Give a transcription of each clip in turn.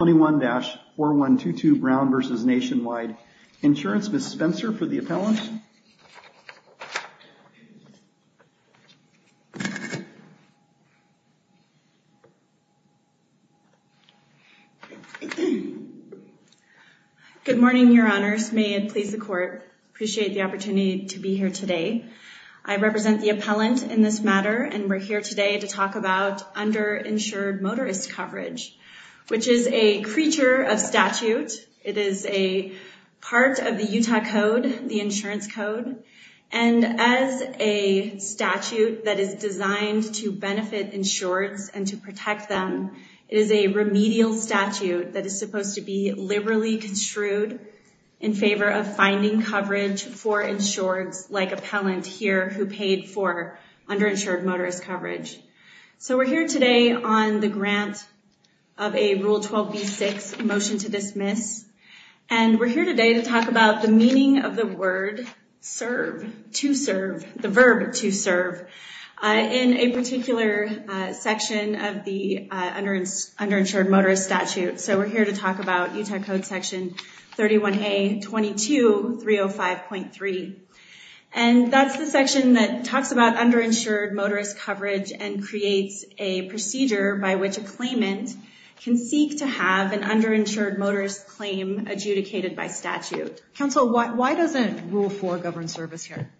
21-4122 Brown v. Nationwide Insurance. Ms. Spencer for the appellant. Good morning, your honors. May it please the court. Appreciate the opportunity to be here today. I represent the appellant in this matter and we're here today to talk about underinsured motorist coverage, which is a creature of statute. It is a part of the Utah code, the insurance code. And as a statute that is designed to benefit insureds and to protect them, it is a remedial statute that is supposed to be liberally construed in favor of finding coverage for insureds like appellant here who paid for underinsured motorist coverage. So we're here today on the grant of a Rule 12b-6 motion to dismiss. And we're here today to talk about the meaning of the word serve, to serve, the verb to serve in a particular section of the underinsured motorist statute. So we're here to talk about Utah code section 31a-22-305.3. And that's the section that talks about underinsured motorist coverage and creates a procedure by which a claimant can seek to have an underinsured motorist claim adjudicated by statute. Counsel, why doesn't Rule 4 govern service here?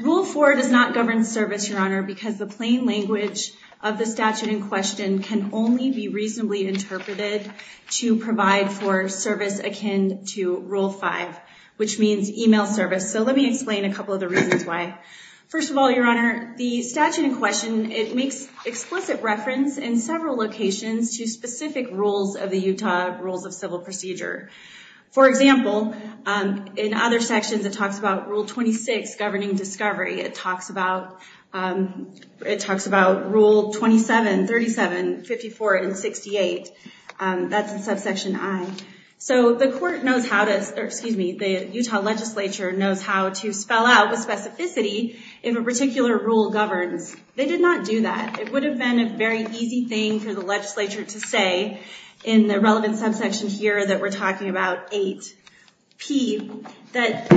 Rule 4 does not govern service, Your Honor, because the plain language of the statute in question can only be reasonably interpreted to provide for service akin to Rule 5, which means email service. So let me explain a couple of the reasons why. First of all, Your Honor, the statute in question makes explicit reference in several locations to specific rules of the Utah Rules of Civil Procedure. For example, in other sections, it talks about Rule 26, Governing Discovery. It talks about Rule 27, 37, 54, and 68. That's in subsection I. So the court knows how to, or excuse me, the Utah legislature knows how to spell out with specificity if a particular rule governs. They did not do that. It would have been a very easy thing for the legislature to say in the relevant subsection here that we're talking about, 8P, that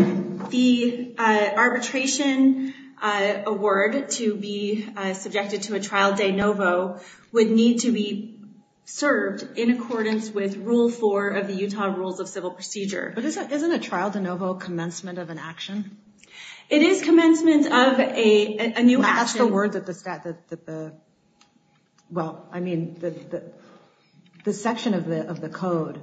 the arbitration award to be subjected to a trial de novo would need to be served in accordance with Rule 4 of the Utah Rules of Civil Procedure. But isn't a trial de novo commencement of an action? It is commencement of a new action. That's the word that the, well, I mean, the section of the code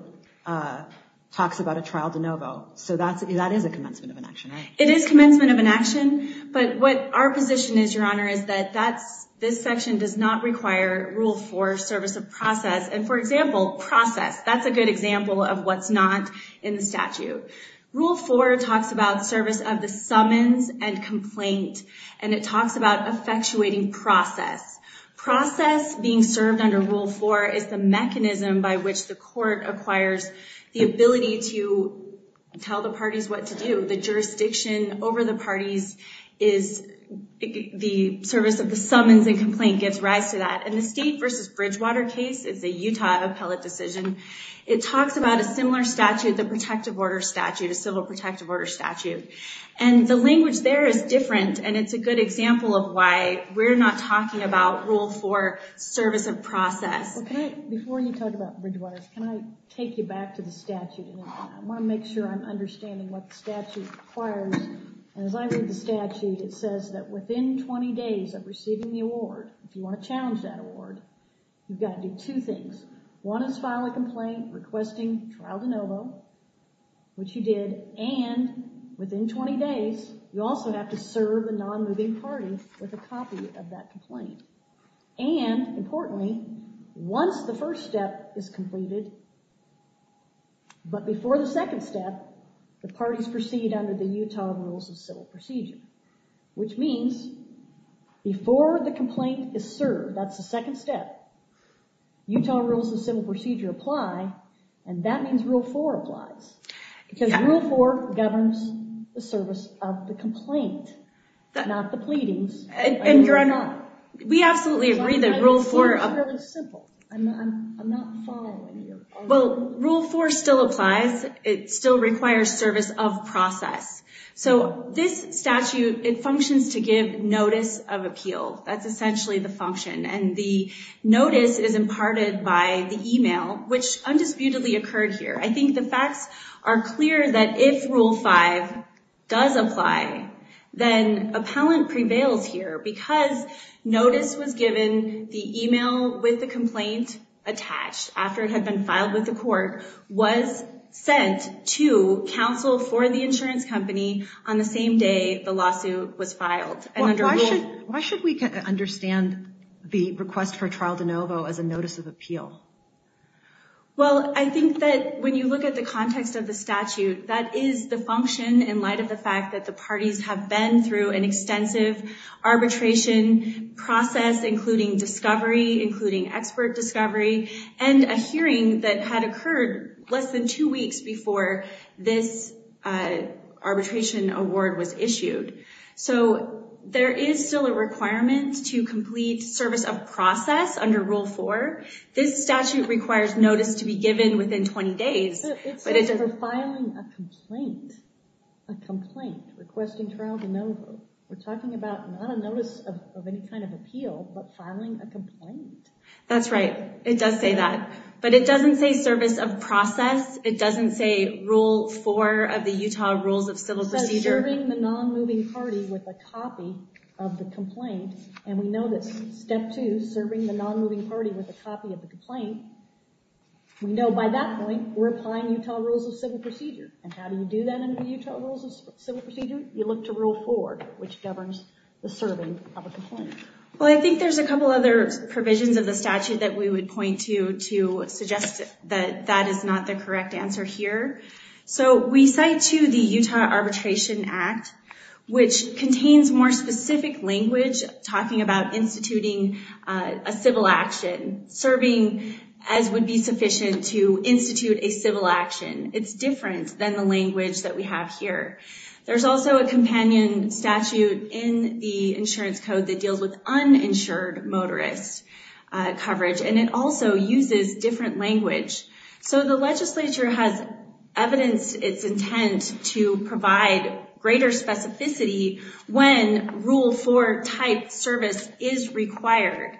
talks about a trial de novo. So that is a commencement of an action, right? It is commencement of an action. But what our position is, Your Honor, is that this section does not require Rule 4, Service of Process. And for example, process, that's a good example of what's not in the statute. Rule 4 talks about service of the summons and complaint. And it talks about effectuating process. Process being served under Rule 4 is the mechanism by which the court acquires the ability to tell the parties what to do. The jurisdiction over the parties is, the service of the summons and complaint gives rise to that. And the State versus Bridgewater case is a Utah appellate decision. It talks about a similar statute, the protective order statute, a civil protective order statute. And the language there is different. And it's a good example of why we're not talking about Rule 4, Service of Process. Okay, before you talk about Bridgewaters, can I take you back to the statute? I wanna make sure I'm understanding what the statute requires. And as I read the statute, it says that within 20 days of receiving the award, if you wanna challenge that award, you've gotta do two things. One is file a complaint requesting trial de novo, which you did. And within 20 days, you also have to serve a non-moving party with a copy of that complaint. And importantly, once the first step is completed, but before the second step, the parties proceed under the Utah Rules of Civil Procedure, which means before the complaint is served, that's the second step, Utah Rules of Civil Procedure apply. And that means Rule 4 applies. Because Rule 4 governs the service of the complaint, not the pleadings. And you're not, we absolutely agree that Rule 4. It seems really simple. I'm not following you. Well, Rule 4 still applies. It still requires service of process. So this statute, it functions to give notice of appeal. That's essentially the function. And the notice is imparted by the email, which undisputedly occurred here. I think the facts are clear that if Rule 5 does apply, then appellant prevails here because notice was given, the email with the complaint attached, after it had been filed with the court, was sent to counsel for the insurance company on the same day the lawsuit was filed. And under Rule- Why should we understand the request for trial de novo as a notice of appeal? Well, I think that when you look at the context of the statute, that is the function in light of the fact that the parties have been through an extensive arbitration process, including discovery, including expert discovery, and a hearing that had occurred less than two weeks before this arbitration award was issued. So there is still a requirement to complete service of process under Rule 4. This statute requires notice to be given within 20 days. But it- It says for filing a complaint, a complaint requesting trial de novo. We're talking about not a notice of any kind of appeal, but filing a complaint. That's right. It does say that. But it doesn't say service of process. It doesn't say Rule 4 of the Utah Rules of Civil Procedure. It says serving the non-moving party with a copy of the complaint. And we know that Step 2, serving the non-moving party with a copy of the complaint, we know by that point, we're applying Utah Rules of Civil Procedure. And how do you do that under the Utah Rules of Civil Procedure? You look to Rule 4, which governs the serving of a complaint. Well, I think there's a couple other provisions of the statute that we would point to to suggest that that is not the correct answer here. So we cite to the Utah Arbitration Act, which contains more specific language talking about instituting a civil action, serving as would be sufficient to institute a civil action. It's different than the language that we have here. There's also a companion statute in the insurance code that deals with uninsured motorist coverage, and it also uses different language. So the legislature has evidenced its intent to provide greater specificity when Rule 4 type service is required.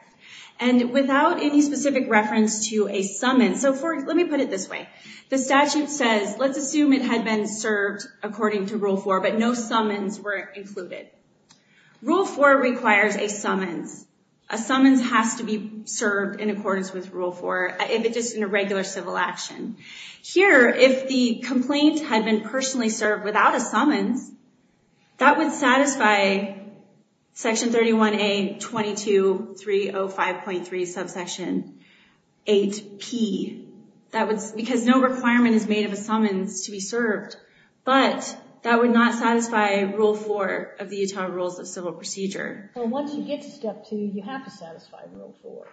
And without any specific reference to a summons, so let me put it this way. The statute says, let's assume it had been served according to Rule 4, but no summons were included. Rule 4 requires a summons. A summons has to be served in accordance with Rule 4, if it's just in a regular civil action. Here, if the complaint had been personally served without a summons, that would satisfy Section 31A-22-305.3 Subsection 8P, because no requirement is made of a summons to be served, but that would not satisfy Rule 4 of the Utah Rules of Civil Procedure. So once you get to Step 2, you have to satisfy Rule 4.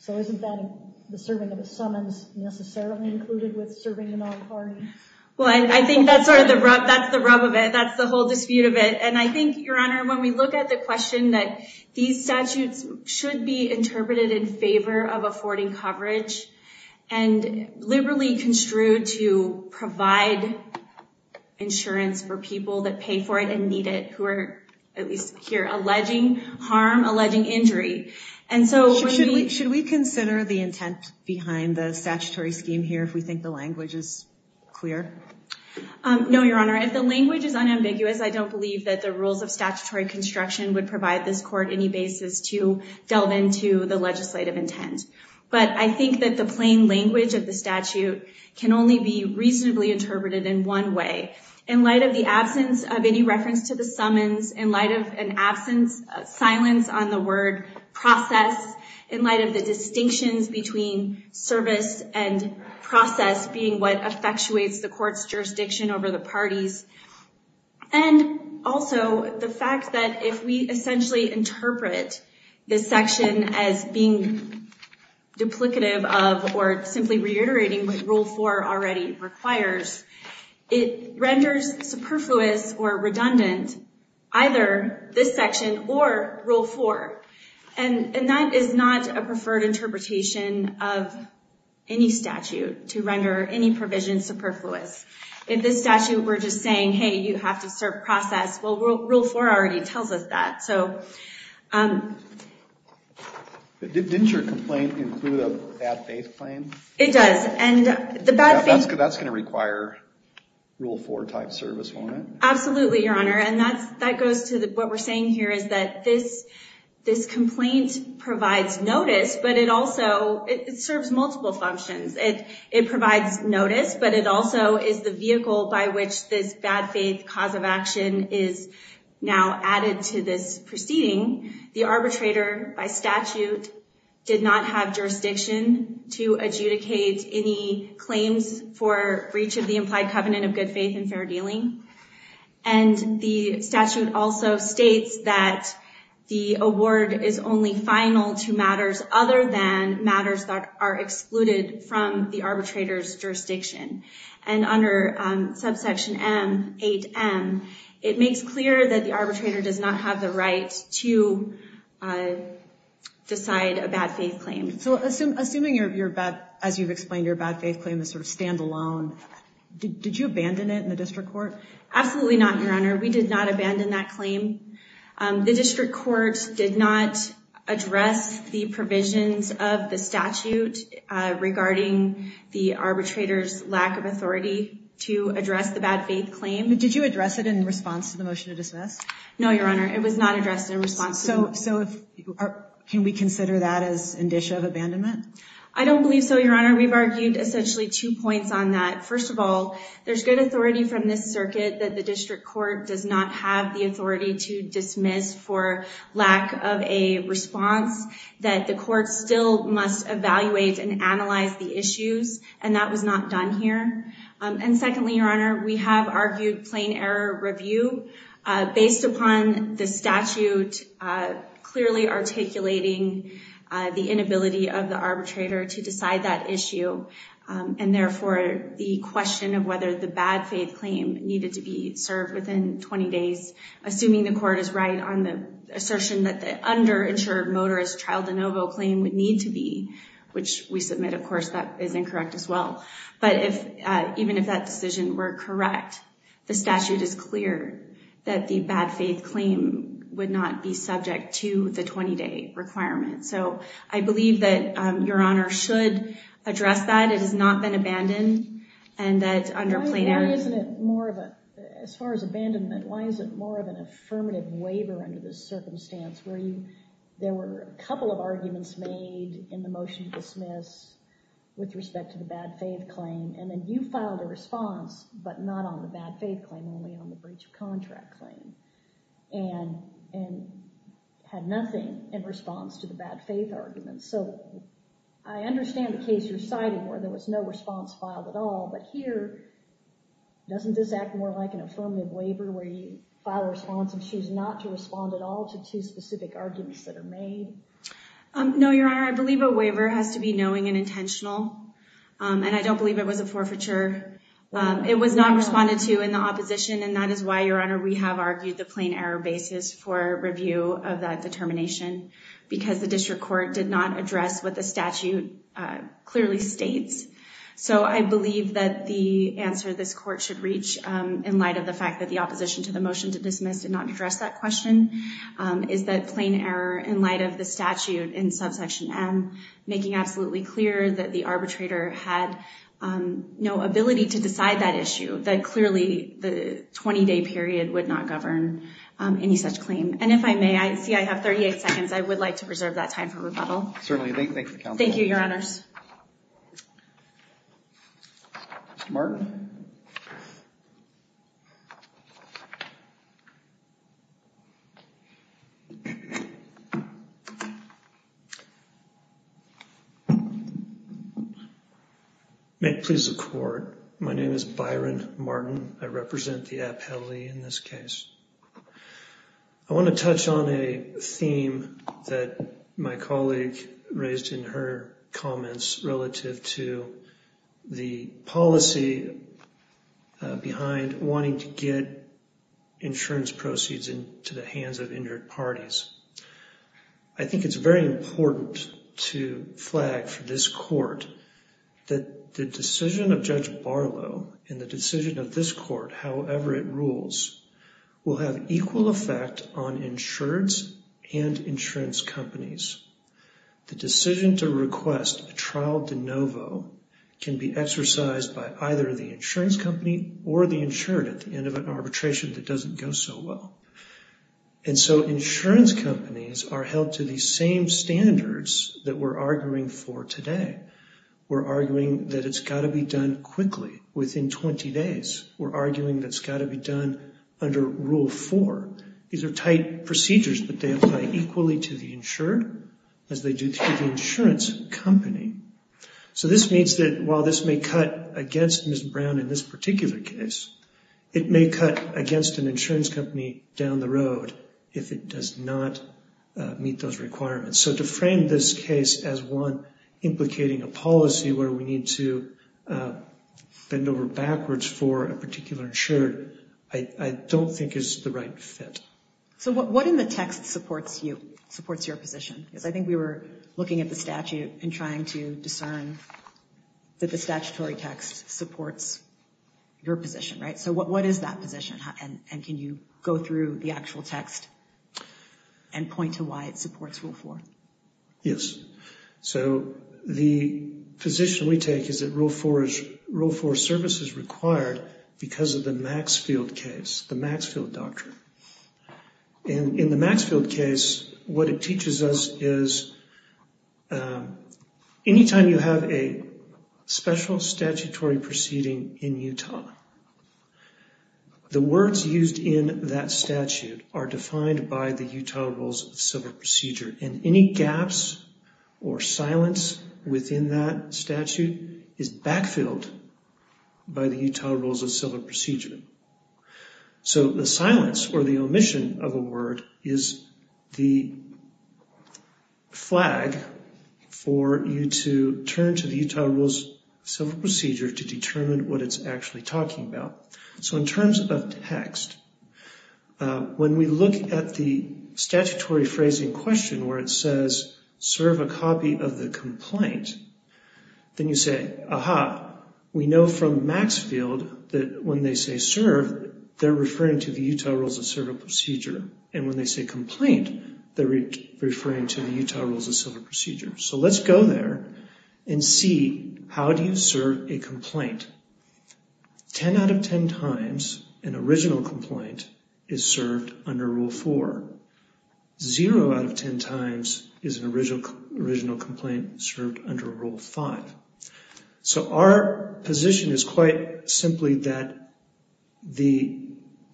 So isn't that the serving of a summons necessarily included with serving a non-party? Well, I think that's sort of the rub, that's the rub of it, that's the whole dispute of it. And I think, Your Honor, when we look at the question that these statutes should be interpreted in favor of affording coverage, and liberally construed to provide insurance for people that pay for it and need it, who are, at least here, alleging harm, alleging injury. And so when we- Should we consider the intent behind the statutory scheme here if we think the language is clear? No, Your Honor. If the language is unambiguous, I don't believe that the rules of statutory construction would provide this Court any basis to delve into the legislative intent. But I think that the plain language of the statute can only be reasonably interpreted in one way. In light of the absence of any reference to the summons, in light of an absence, silence on the word process, in light of the distinctions between service and process being what effectuates the Court's jurisdiction over the parties, and also the fact that if we essentially interpret this section as being duplicative of, or simply reiterating what Rule 4 already requires, it renders superfluous or redundant either this section or Rule 4. And that is not a preferred interpretation of any statute to render any provision superfluous. In this statute, we're just saying, hey, you have to serve process. Well, Rule 4 already tells us that, so. Didn't your complaint include a bad faith claim? It does, and the bad faith- That's gonna require Rule 4 type service, won't it? Absolutely, Your Honor. And that goes to what we're saying here is that this complaint provides notice, but it also, it serves multiple functions. It provides notice, but it also is the vehicle by which this bad faith cause of action is now added to this proceeding. The arbitrator, by statute, did not have jurisdiction to adjudicate any claims for breach of the implied covenant of good faith and fair dealing. And the statute also states that the award is only final to matters other than matters that are excluded from the arbitrator's jurisdiction. And under subsection M, 8M, it makes clear that the arbitrator does not have the right to decide a bad faith claim. So assuming, as you've explained, your bad faith claim is sort of standalone, did you abandon it in the district court? Absolutely not, Your Honor. We did not abandon that claim. The district court did not address the provisions of the statute regarding the arbitrator's lack of authority to address the bad faith claim. Did you address it in response to the motion to dismiss? No, Your Honor. It was not addressed in response to- So can we consider that as indicia of abandonment? I don't believe so, Your Honor. We've argued essentially two points on that. First of all, there's good authority from this circuit that the district court does not have the authority to dismiss for lack of a response, that the court still must evaluate and analyze the issues, and that was not done here. And secondly, Your Honor, we have argued plain error review based upon the statute clearly articulating the inability of the arbitrator to decide that issue, and therefore the question of whether the bad faith claim needed to be served within 20 days, assuming the court is right on the assertion that the underinsured motorist trial de novo claim would need to be, which we submit, of course, that is incorrect as well. But even if that decision were correct, the statute is clear that the bad faith claim would not be subject to the 20-day requirement. So I believe that Your Honor should address that. It has not been abandoned, and that under plain error- Why isn't it more of a, as far as abandonment, why is it more of an affirmative waiver under this circumstance where you, there were a couple of arguments made in the motion to dismiss with respect to the bad faith claim, and then you filed a response, but not on the bad faith claim, only on the breach of contract claim. And had nothing in response to the bad faith argument. So I understand the case you're citing where there was no response filed at all, but here, doesn't this act more like an affirmative waiver where you file a response and choose not to respond at all to two specific arguments that are made? No, Your Honor, I believe a waiver has to be knowing and intentional, and I don't believe it was a forfeiture. It was not responded to in the opposition, and that is why, Your Honor, we have argued the plain error basis for review of that determination, because the district court did not address what the statute clearly states. So I believe that the answer this court should reach, in light of the fact that the opposition to the motion to dismiss did not address that question, is that plain error in light of the statute in subsection M, making absolutely clear that the arbitrator had no ability to decide that issue, that clearly the 20-day period would not govern any such claim. And if I may, I see I have 38 seconds. I would like to preserve that time for rebuttal. Certainly, thank you, Counsel. Thank you, Your Honors. Martin. May it please the Court, my name is Byron Martin. I represent the appellee in this case. I want to touch on a theme that my colleague raised in her comments relative to the policy behind wanting to get insurance proceeds into the hands of injured parties. I think it's very important to flag for this court that the decision of Judge Barlow and the decision of this court, however it rules, will have equal effect on insureds and insurance companies. The decision to request a trial de novo can be exercised by either the insurance company or the insured at the end of an arbitration that doesn't go so well. And so insurance companies are held to the same standards that we're arguing for today. We're arguing that it's gotta be done quickly, within 20 days. We're arguing that it's gotta be done under Rule 4. These are tight procedures, but they apply equally to the insured as they do to the insurance company. So this means that while this may cut against Ms. Brown in this particular case, it may cut against an insurance company down the road if it does not meet those requirements. So to frame this case as one implicating a policy where we need to bend over backwards for a particular insured, I don't think is the right fit. So what in the text supports you, supports your position? Because I think we were looking at the statute and trying to discern that the statutory text supports your position, right? So what is that position? And can you go through the actual text and point to why it supports Rule 4? Yes. So the position we take is that Rule 4 service is required because of the Maxfield case, the Maxfield doctrine. In the Maxfield case, what it teaches us is anytime you have a special statutory proceeding in Utah, the words used in that statute are defined by the Utah Rules of Civil Procedure. And any gaps or silence within that statute is backfilled by the Utah Rules of Civil Procedure. So the silence or the omission of a word is the flag for you to turn to the Utah Rules of Civil Procedure to determine what it's actually talking about. So in terms of text, when we look at the statutory phrasing question where it says, serve a copy of the complaint, then you say, aha, we know from Maxfield that when they say serve, they're referring to the Utah Rules of Civil Procedure. And when they say complaint, they're referring to the Utah Rules of Civil Procedure. So let's go there and see how do you serve a complaint? 10 out of 10 times, an original complaint is served under Rule 4. Zero out of 10 times is an original complaint served under Rule 5. So our position is quite simply that the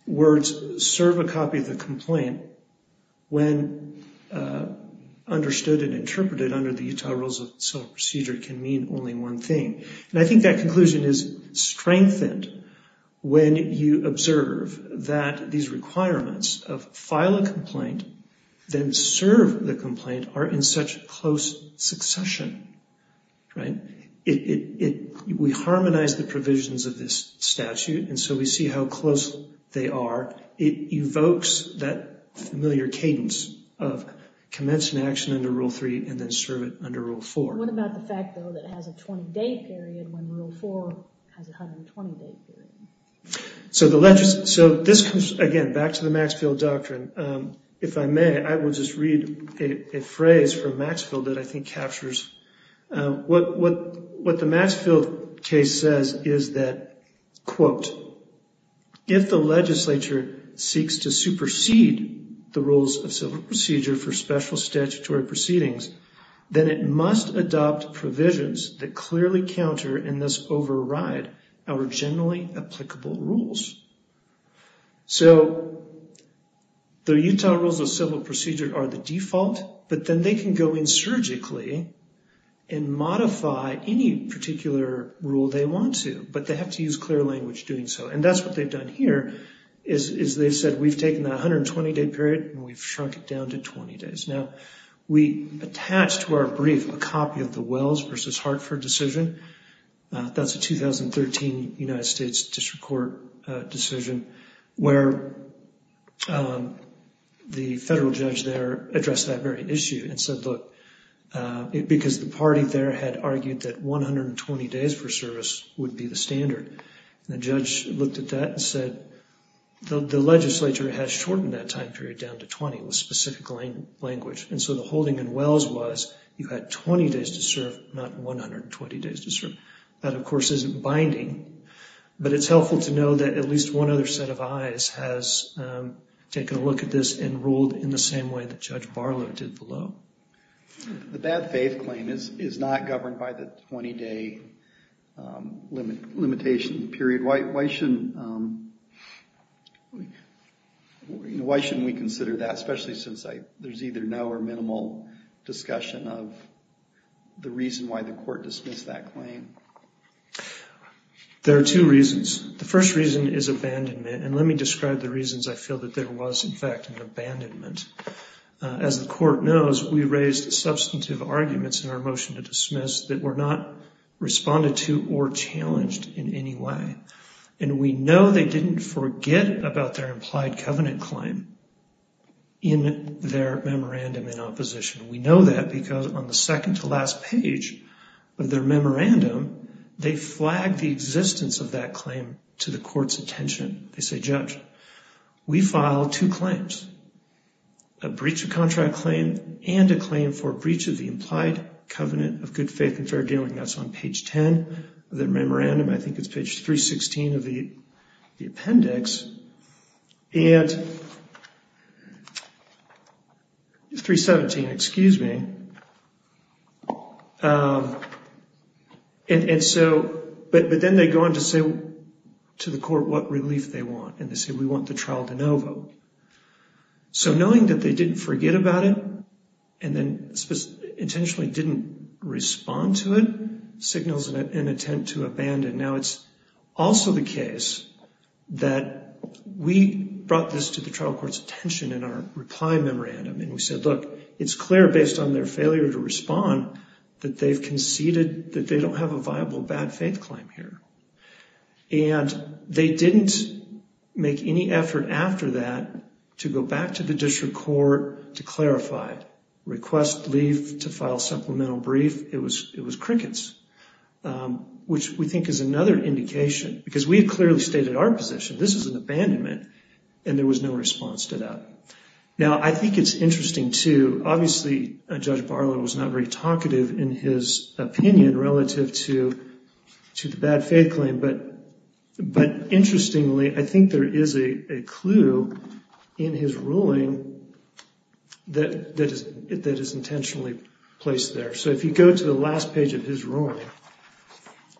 words serve a copy of the complaint when understood and interpreted under the Utah Rules of Civil Procedure can mean only one thing. And I think that conclusion is strengthened when you observe that these requirements of file a complaint, then serve the complaint are in such close succession, right? We harmonize the provisions of this statute and so we see how close they are. It evokes that familiar cadence of commence an action under Rule 3 and then serve it under Rule 4. What about the fact, though, that it has a 20-day period when Rule 4 has a 120-day period? So this comes, again, back to the Maxfield Doctrine. If I may, I will just read a phrase from Maxfield that I think captures what the Maxfield case says is that, quote, if the legislature seeks to supersede the Rules of Civil Procedure for special statutory proceedings, then it must adopt provisions that clearly counter in this override our generally applicable rules. So the Utah Rules of Civil Procedure are the default, but then they can go in surgically and modify any particular rule they want to, but they have to use clear language doing so. And that's what they've done here is they've said we've taken the 120-day period and we've shrunk it down to 20 days. Now, we attached to our brief a copy of the Wells v. Hartford decision. That's a 2013 United States District Court decision where the federal judge there addressed that very issue and said, look, because the party there had argued that 120 days for service would be the standard. The judge looked at that and said, the legislature has shortened that time period down to 20 in a specific language. And so the holding in Wells was you had 20 days to serve, not 120 days to serve. That, of course, isn't binding, but it's helpful to know that at least one other set of eyes has taken a look at this and ruled in the same way that Judge Barlow did below. The bad faith claim is not governed by the 20-day limitation period. Why shouldn't we consider that, especially since there's either no or minimal discussion of the reason why the court dismissed that claim? There are two reasons. The first reason is abandonment. And let me describe the reasons I feel that there was, in fact, an abandonment. As the court knows, we raised substantive arguments in our motion to dismiss that were not responded to or challenged in any way. And we know they didn't forget about their implied covenant claim. In their memorandum in opposition, we know that because on the second to last page of their memorandum, they flagged the existence of that claim to the court's attention. They say, Judge, we filed two claims, a breach of contract claim and a claim for breach of the implied covenant of good faith and fair dealing. That's on page 10 of their memorandum. I think it's page 316 of the appendix. And, 317, excuse me. And so, but then they go on to say to the court what relief they want. And they say, we want the trial to no vote. So knowing that they didn't forget about it and then intentionally didn't respond to it signals an attempt to abandon. And now it's also the case that we brought this to the trial court's attention in our reply memorandum. And we said, look, it's clear based on their failure to respond that they've conceded that they don't have a viable bad faith claim here. And they didn't make any effort after that to go back to the district court to clarify. Request leave to file supplemental brief. It was crickets, which we think is another indication because we had clearly stated our position. This is an abandonment. And there was no response to that. Now, I think it's interesting too. Obviously, Judge Barlow was not very talkative in his opinion relative to the bad faith claim. But interestingly, I think there is a clue in his ruling that is intentionally placed there. So if you go to the last page of his ruling,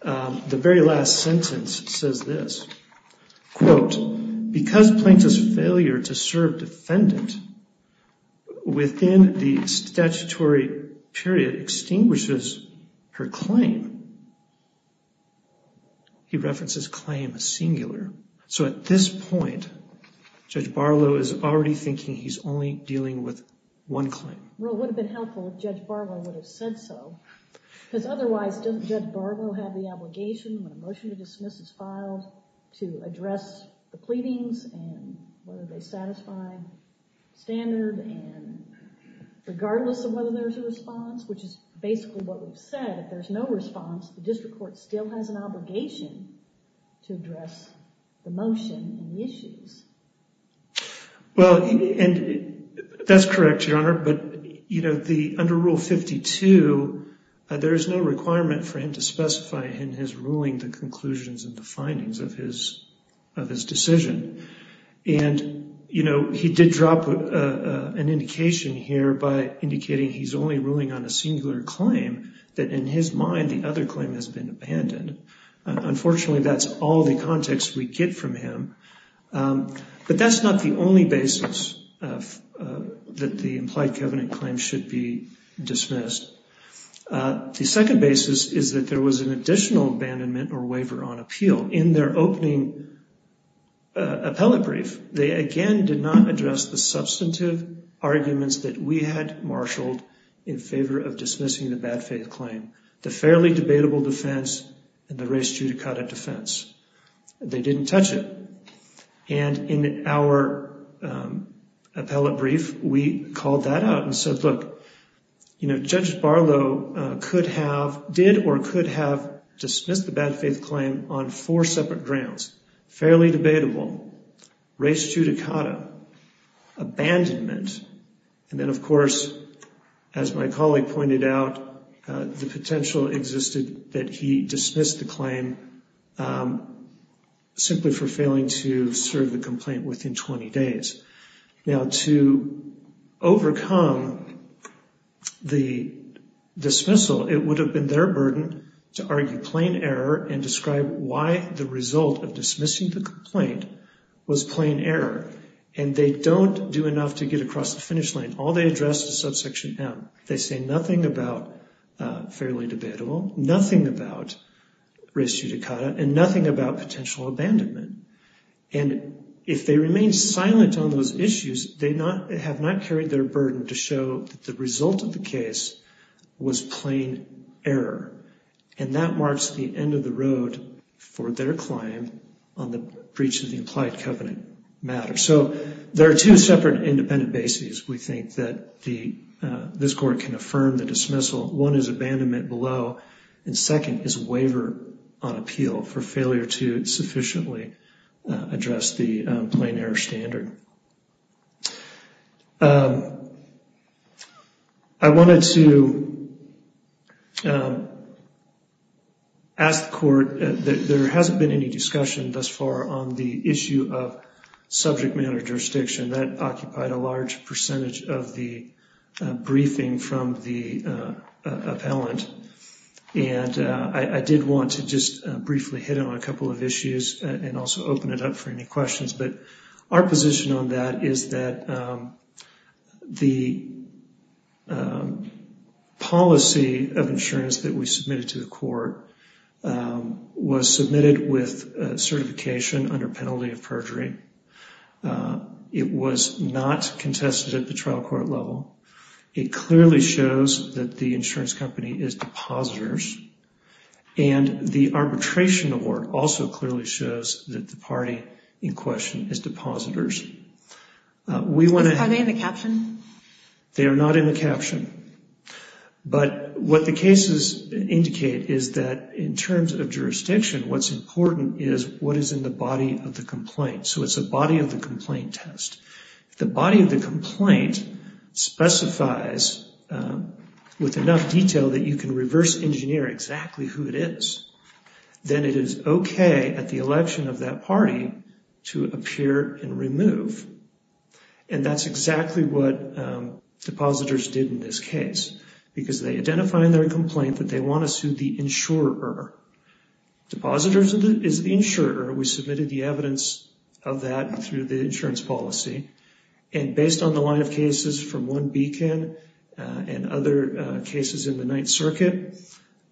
the very last sentence says this, quote, because plaintiff's failure to serve defendant within the statutory period extinguishes her claim, he references claim singular. So at this point, Judge Barlow is already thinking he's only dealing with one claim. Well, it would have been helpful if Judge Barlow would have said so. Because otherwise, doesn't Judge Barlow have the obligation when a motion to dismiss is filed to address the pleadings and whether they satisfy standard and regardless of whether there's a response, which is basically what we've said. If there's no response, the district court still has an obligation to address the motion and the issues. Well, and that's correct, Your Honor. But under Rule 52, there is no requirement for him to specify in his ruling the conclusions and the findings of his decision. And he did drop an indication here by indicating he's only ruling on a singular claim that in his mind, the other claim has been abandoned. Unfortunately, that's all the context we get from him. But that's not the only basis that the implied covenant claim should be dismissed. The second basis is that there was an additional abandonment or waiver on appeal. In their opening appellate brief, they again did not address the substantive arguments that we had marshaled in favor of dismissing the bad faith claim, the fairly debatable defense, and the res judicata defense. They didn't touch it. And in our appellate brief, we called that out and said, look, Judge Barlow did or could have dismissed the bad faith claim on four separate grounds, fairly debatable, res judicata, abandonment, and then, of course, as my colleague pointed out, the potential existed that he dismissed the claim simply for failing to serve the complaint within 20 days. Now, to overcome the dismissal, it would have been their burden to argue plain error and describe why the result of dismissing the complaint was plain error. And they don't do enough to get across the finish line. All they address is subsection M. They say nothing about fairly debatable, nothing about res judicata, and nothing about potential abandonment. And if they remain silent on those issues, they have not carried their burden to show that the result of the case was plain error. And that marks the end of the road for their claim on the breach of the implied covenant matter. So there are two separate independent bases, we think, that this court can affirm the dismissal. One is abandonment below. And second is a waiver on appeal for failure to sufficiently address the plain error standard. I wanted to ask the court that there hasn't been any discussion thus far on the issue of subject matter jurisdiction. That occupied a large percentage of the briefing from the appellant. And I did want to just briefly hit on a couple of issues and also open it up for any questions. But our position on that is that the policy of insurance that we submitted to the court was submitted with certification under penalty of perjury. It was not contested at the trial court level. It clearly shows that the insurance company is depositors. And the arbitration award also clearly shows that the party in question is depositors. We want to have- Are they in the caption? They are not in the caption. But what the cases indicate is that in terms of jurisdiction, what's important is what is in the body of the complaint. So it's a body of the complaint test. The body of the complaint specifies with enough detail that you can reverse engineer exactly who it is. Then it is okay at the election of that party to appear and remove. And that's exactly what depositors did in this case. Because they identify in their complaint that they want to sue the insurer. Depositors is the insurer. We submitted the evidence of that through the insurance policy. And based on the line of cases from one beacon and other cases in the Ninth Circuit,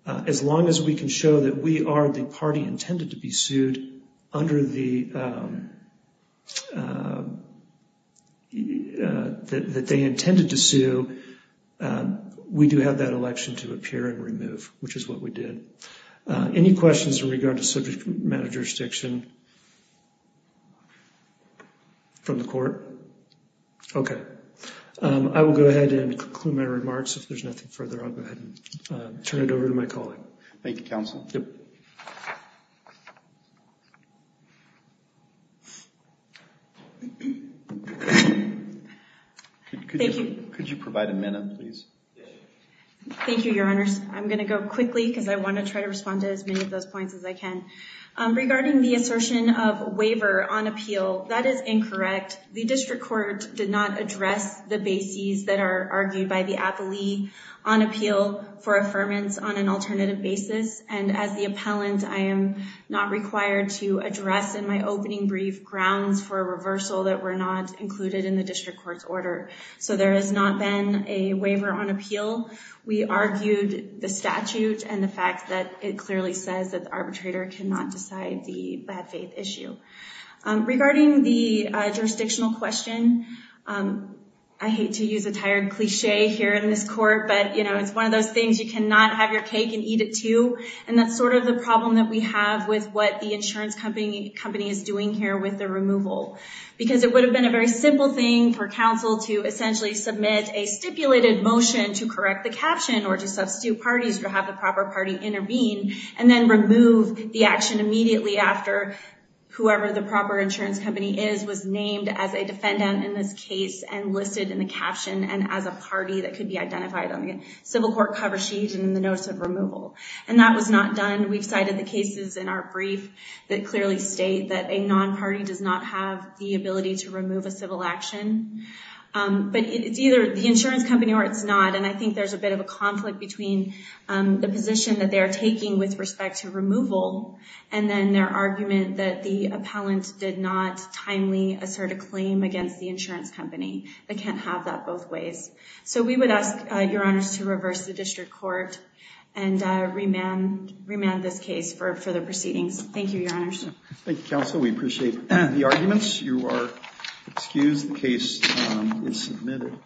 as long as we can show that we are the party intended to be sued under the- that they intended to sue, we do have that election to appear and remove, which is what we did. Any questions in regard to subject matter jurisdiction from the court? Okay. I will go ahead and conclude my remarks. If there's nothing further, I'll go ahead and turn it over to my colleague. Thank you, counsel. Yep. Thank you. Could you provide a minute, please? Thank you, your honors. I'm gonna go quickly, because I want to try to respond to as many of those points as I can. Regarding the assertion of a waiver on appeal, that is incorrect. The district court did not address the bases that are argued by the appellee on appeal for affirmance on an alternative basis. And as the appellant, I am not required to address in my opening brief grounds for a reversal that were not included in the district court's order. So there has not been a waiver on appeal. We argued the statute and the fact that it clearly says that the arbitrator cannot decide the bad faith issue. Regarding the jurisdictional question, I hate to use a tired cliche here in this court, but it's one of those things, you cannot have your cake and eat it too. And that's sort of the problem that we have with what the insurance company is doing here with the removal. Because it would have been a very simple thing for counsel to essentially submit a stipulated motion to correct the caption or to substitute parties or have the proper party intervene and then remove the action immediately after whoever the proper insurance company is was named as a defendant in this case and listed in the caption and as a party that could be identified on the civil court cover sheet and in the notice of removal. And that was not done. We've cited the cases in our brief that clearly state that a non-party does not have the ability to remove a civil action. But it's either the insurance company or it's not. And I think there's a bit of a conflict between the position that they are taking with respect to removal and then their argument that the appellant did not timely assert a claim against the insurance company. They can't have that both ways. So we would ask your honors to reverse the district court and remand this case for further proceedings. Thank you, your honors. Thank you, counsel, we appreciate the arguments. You are excused, the case is submitted.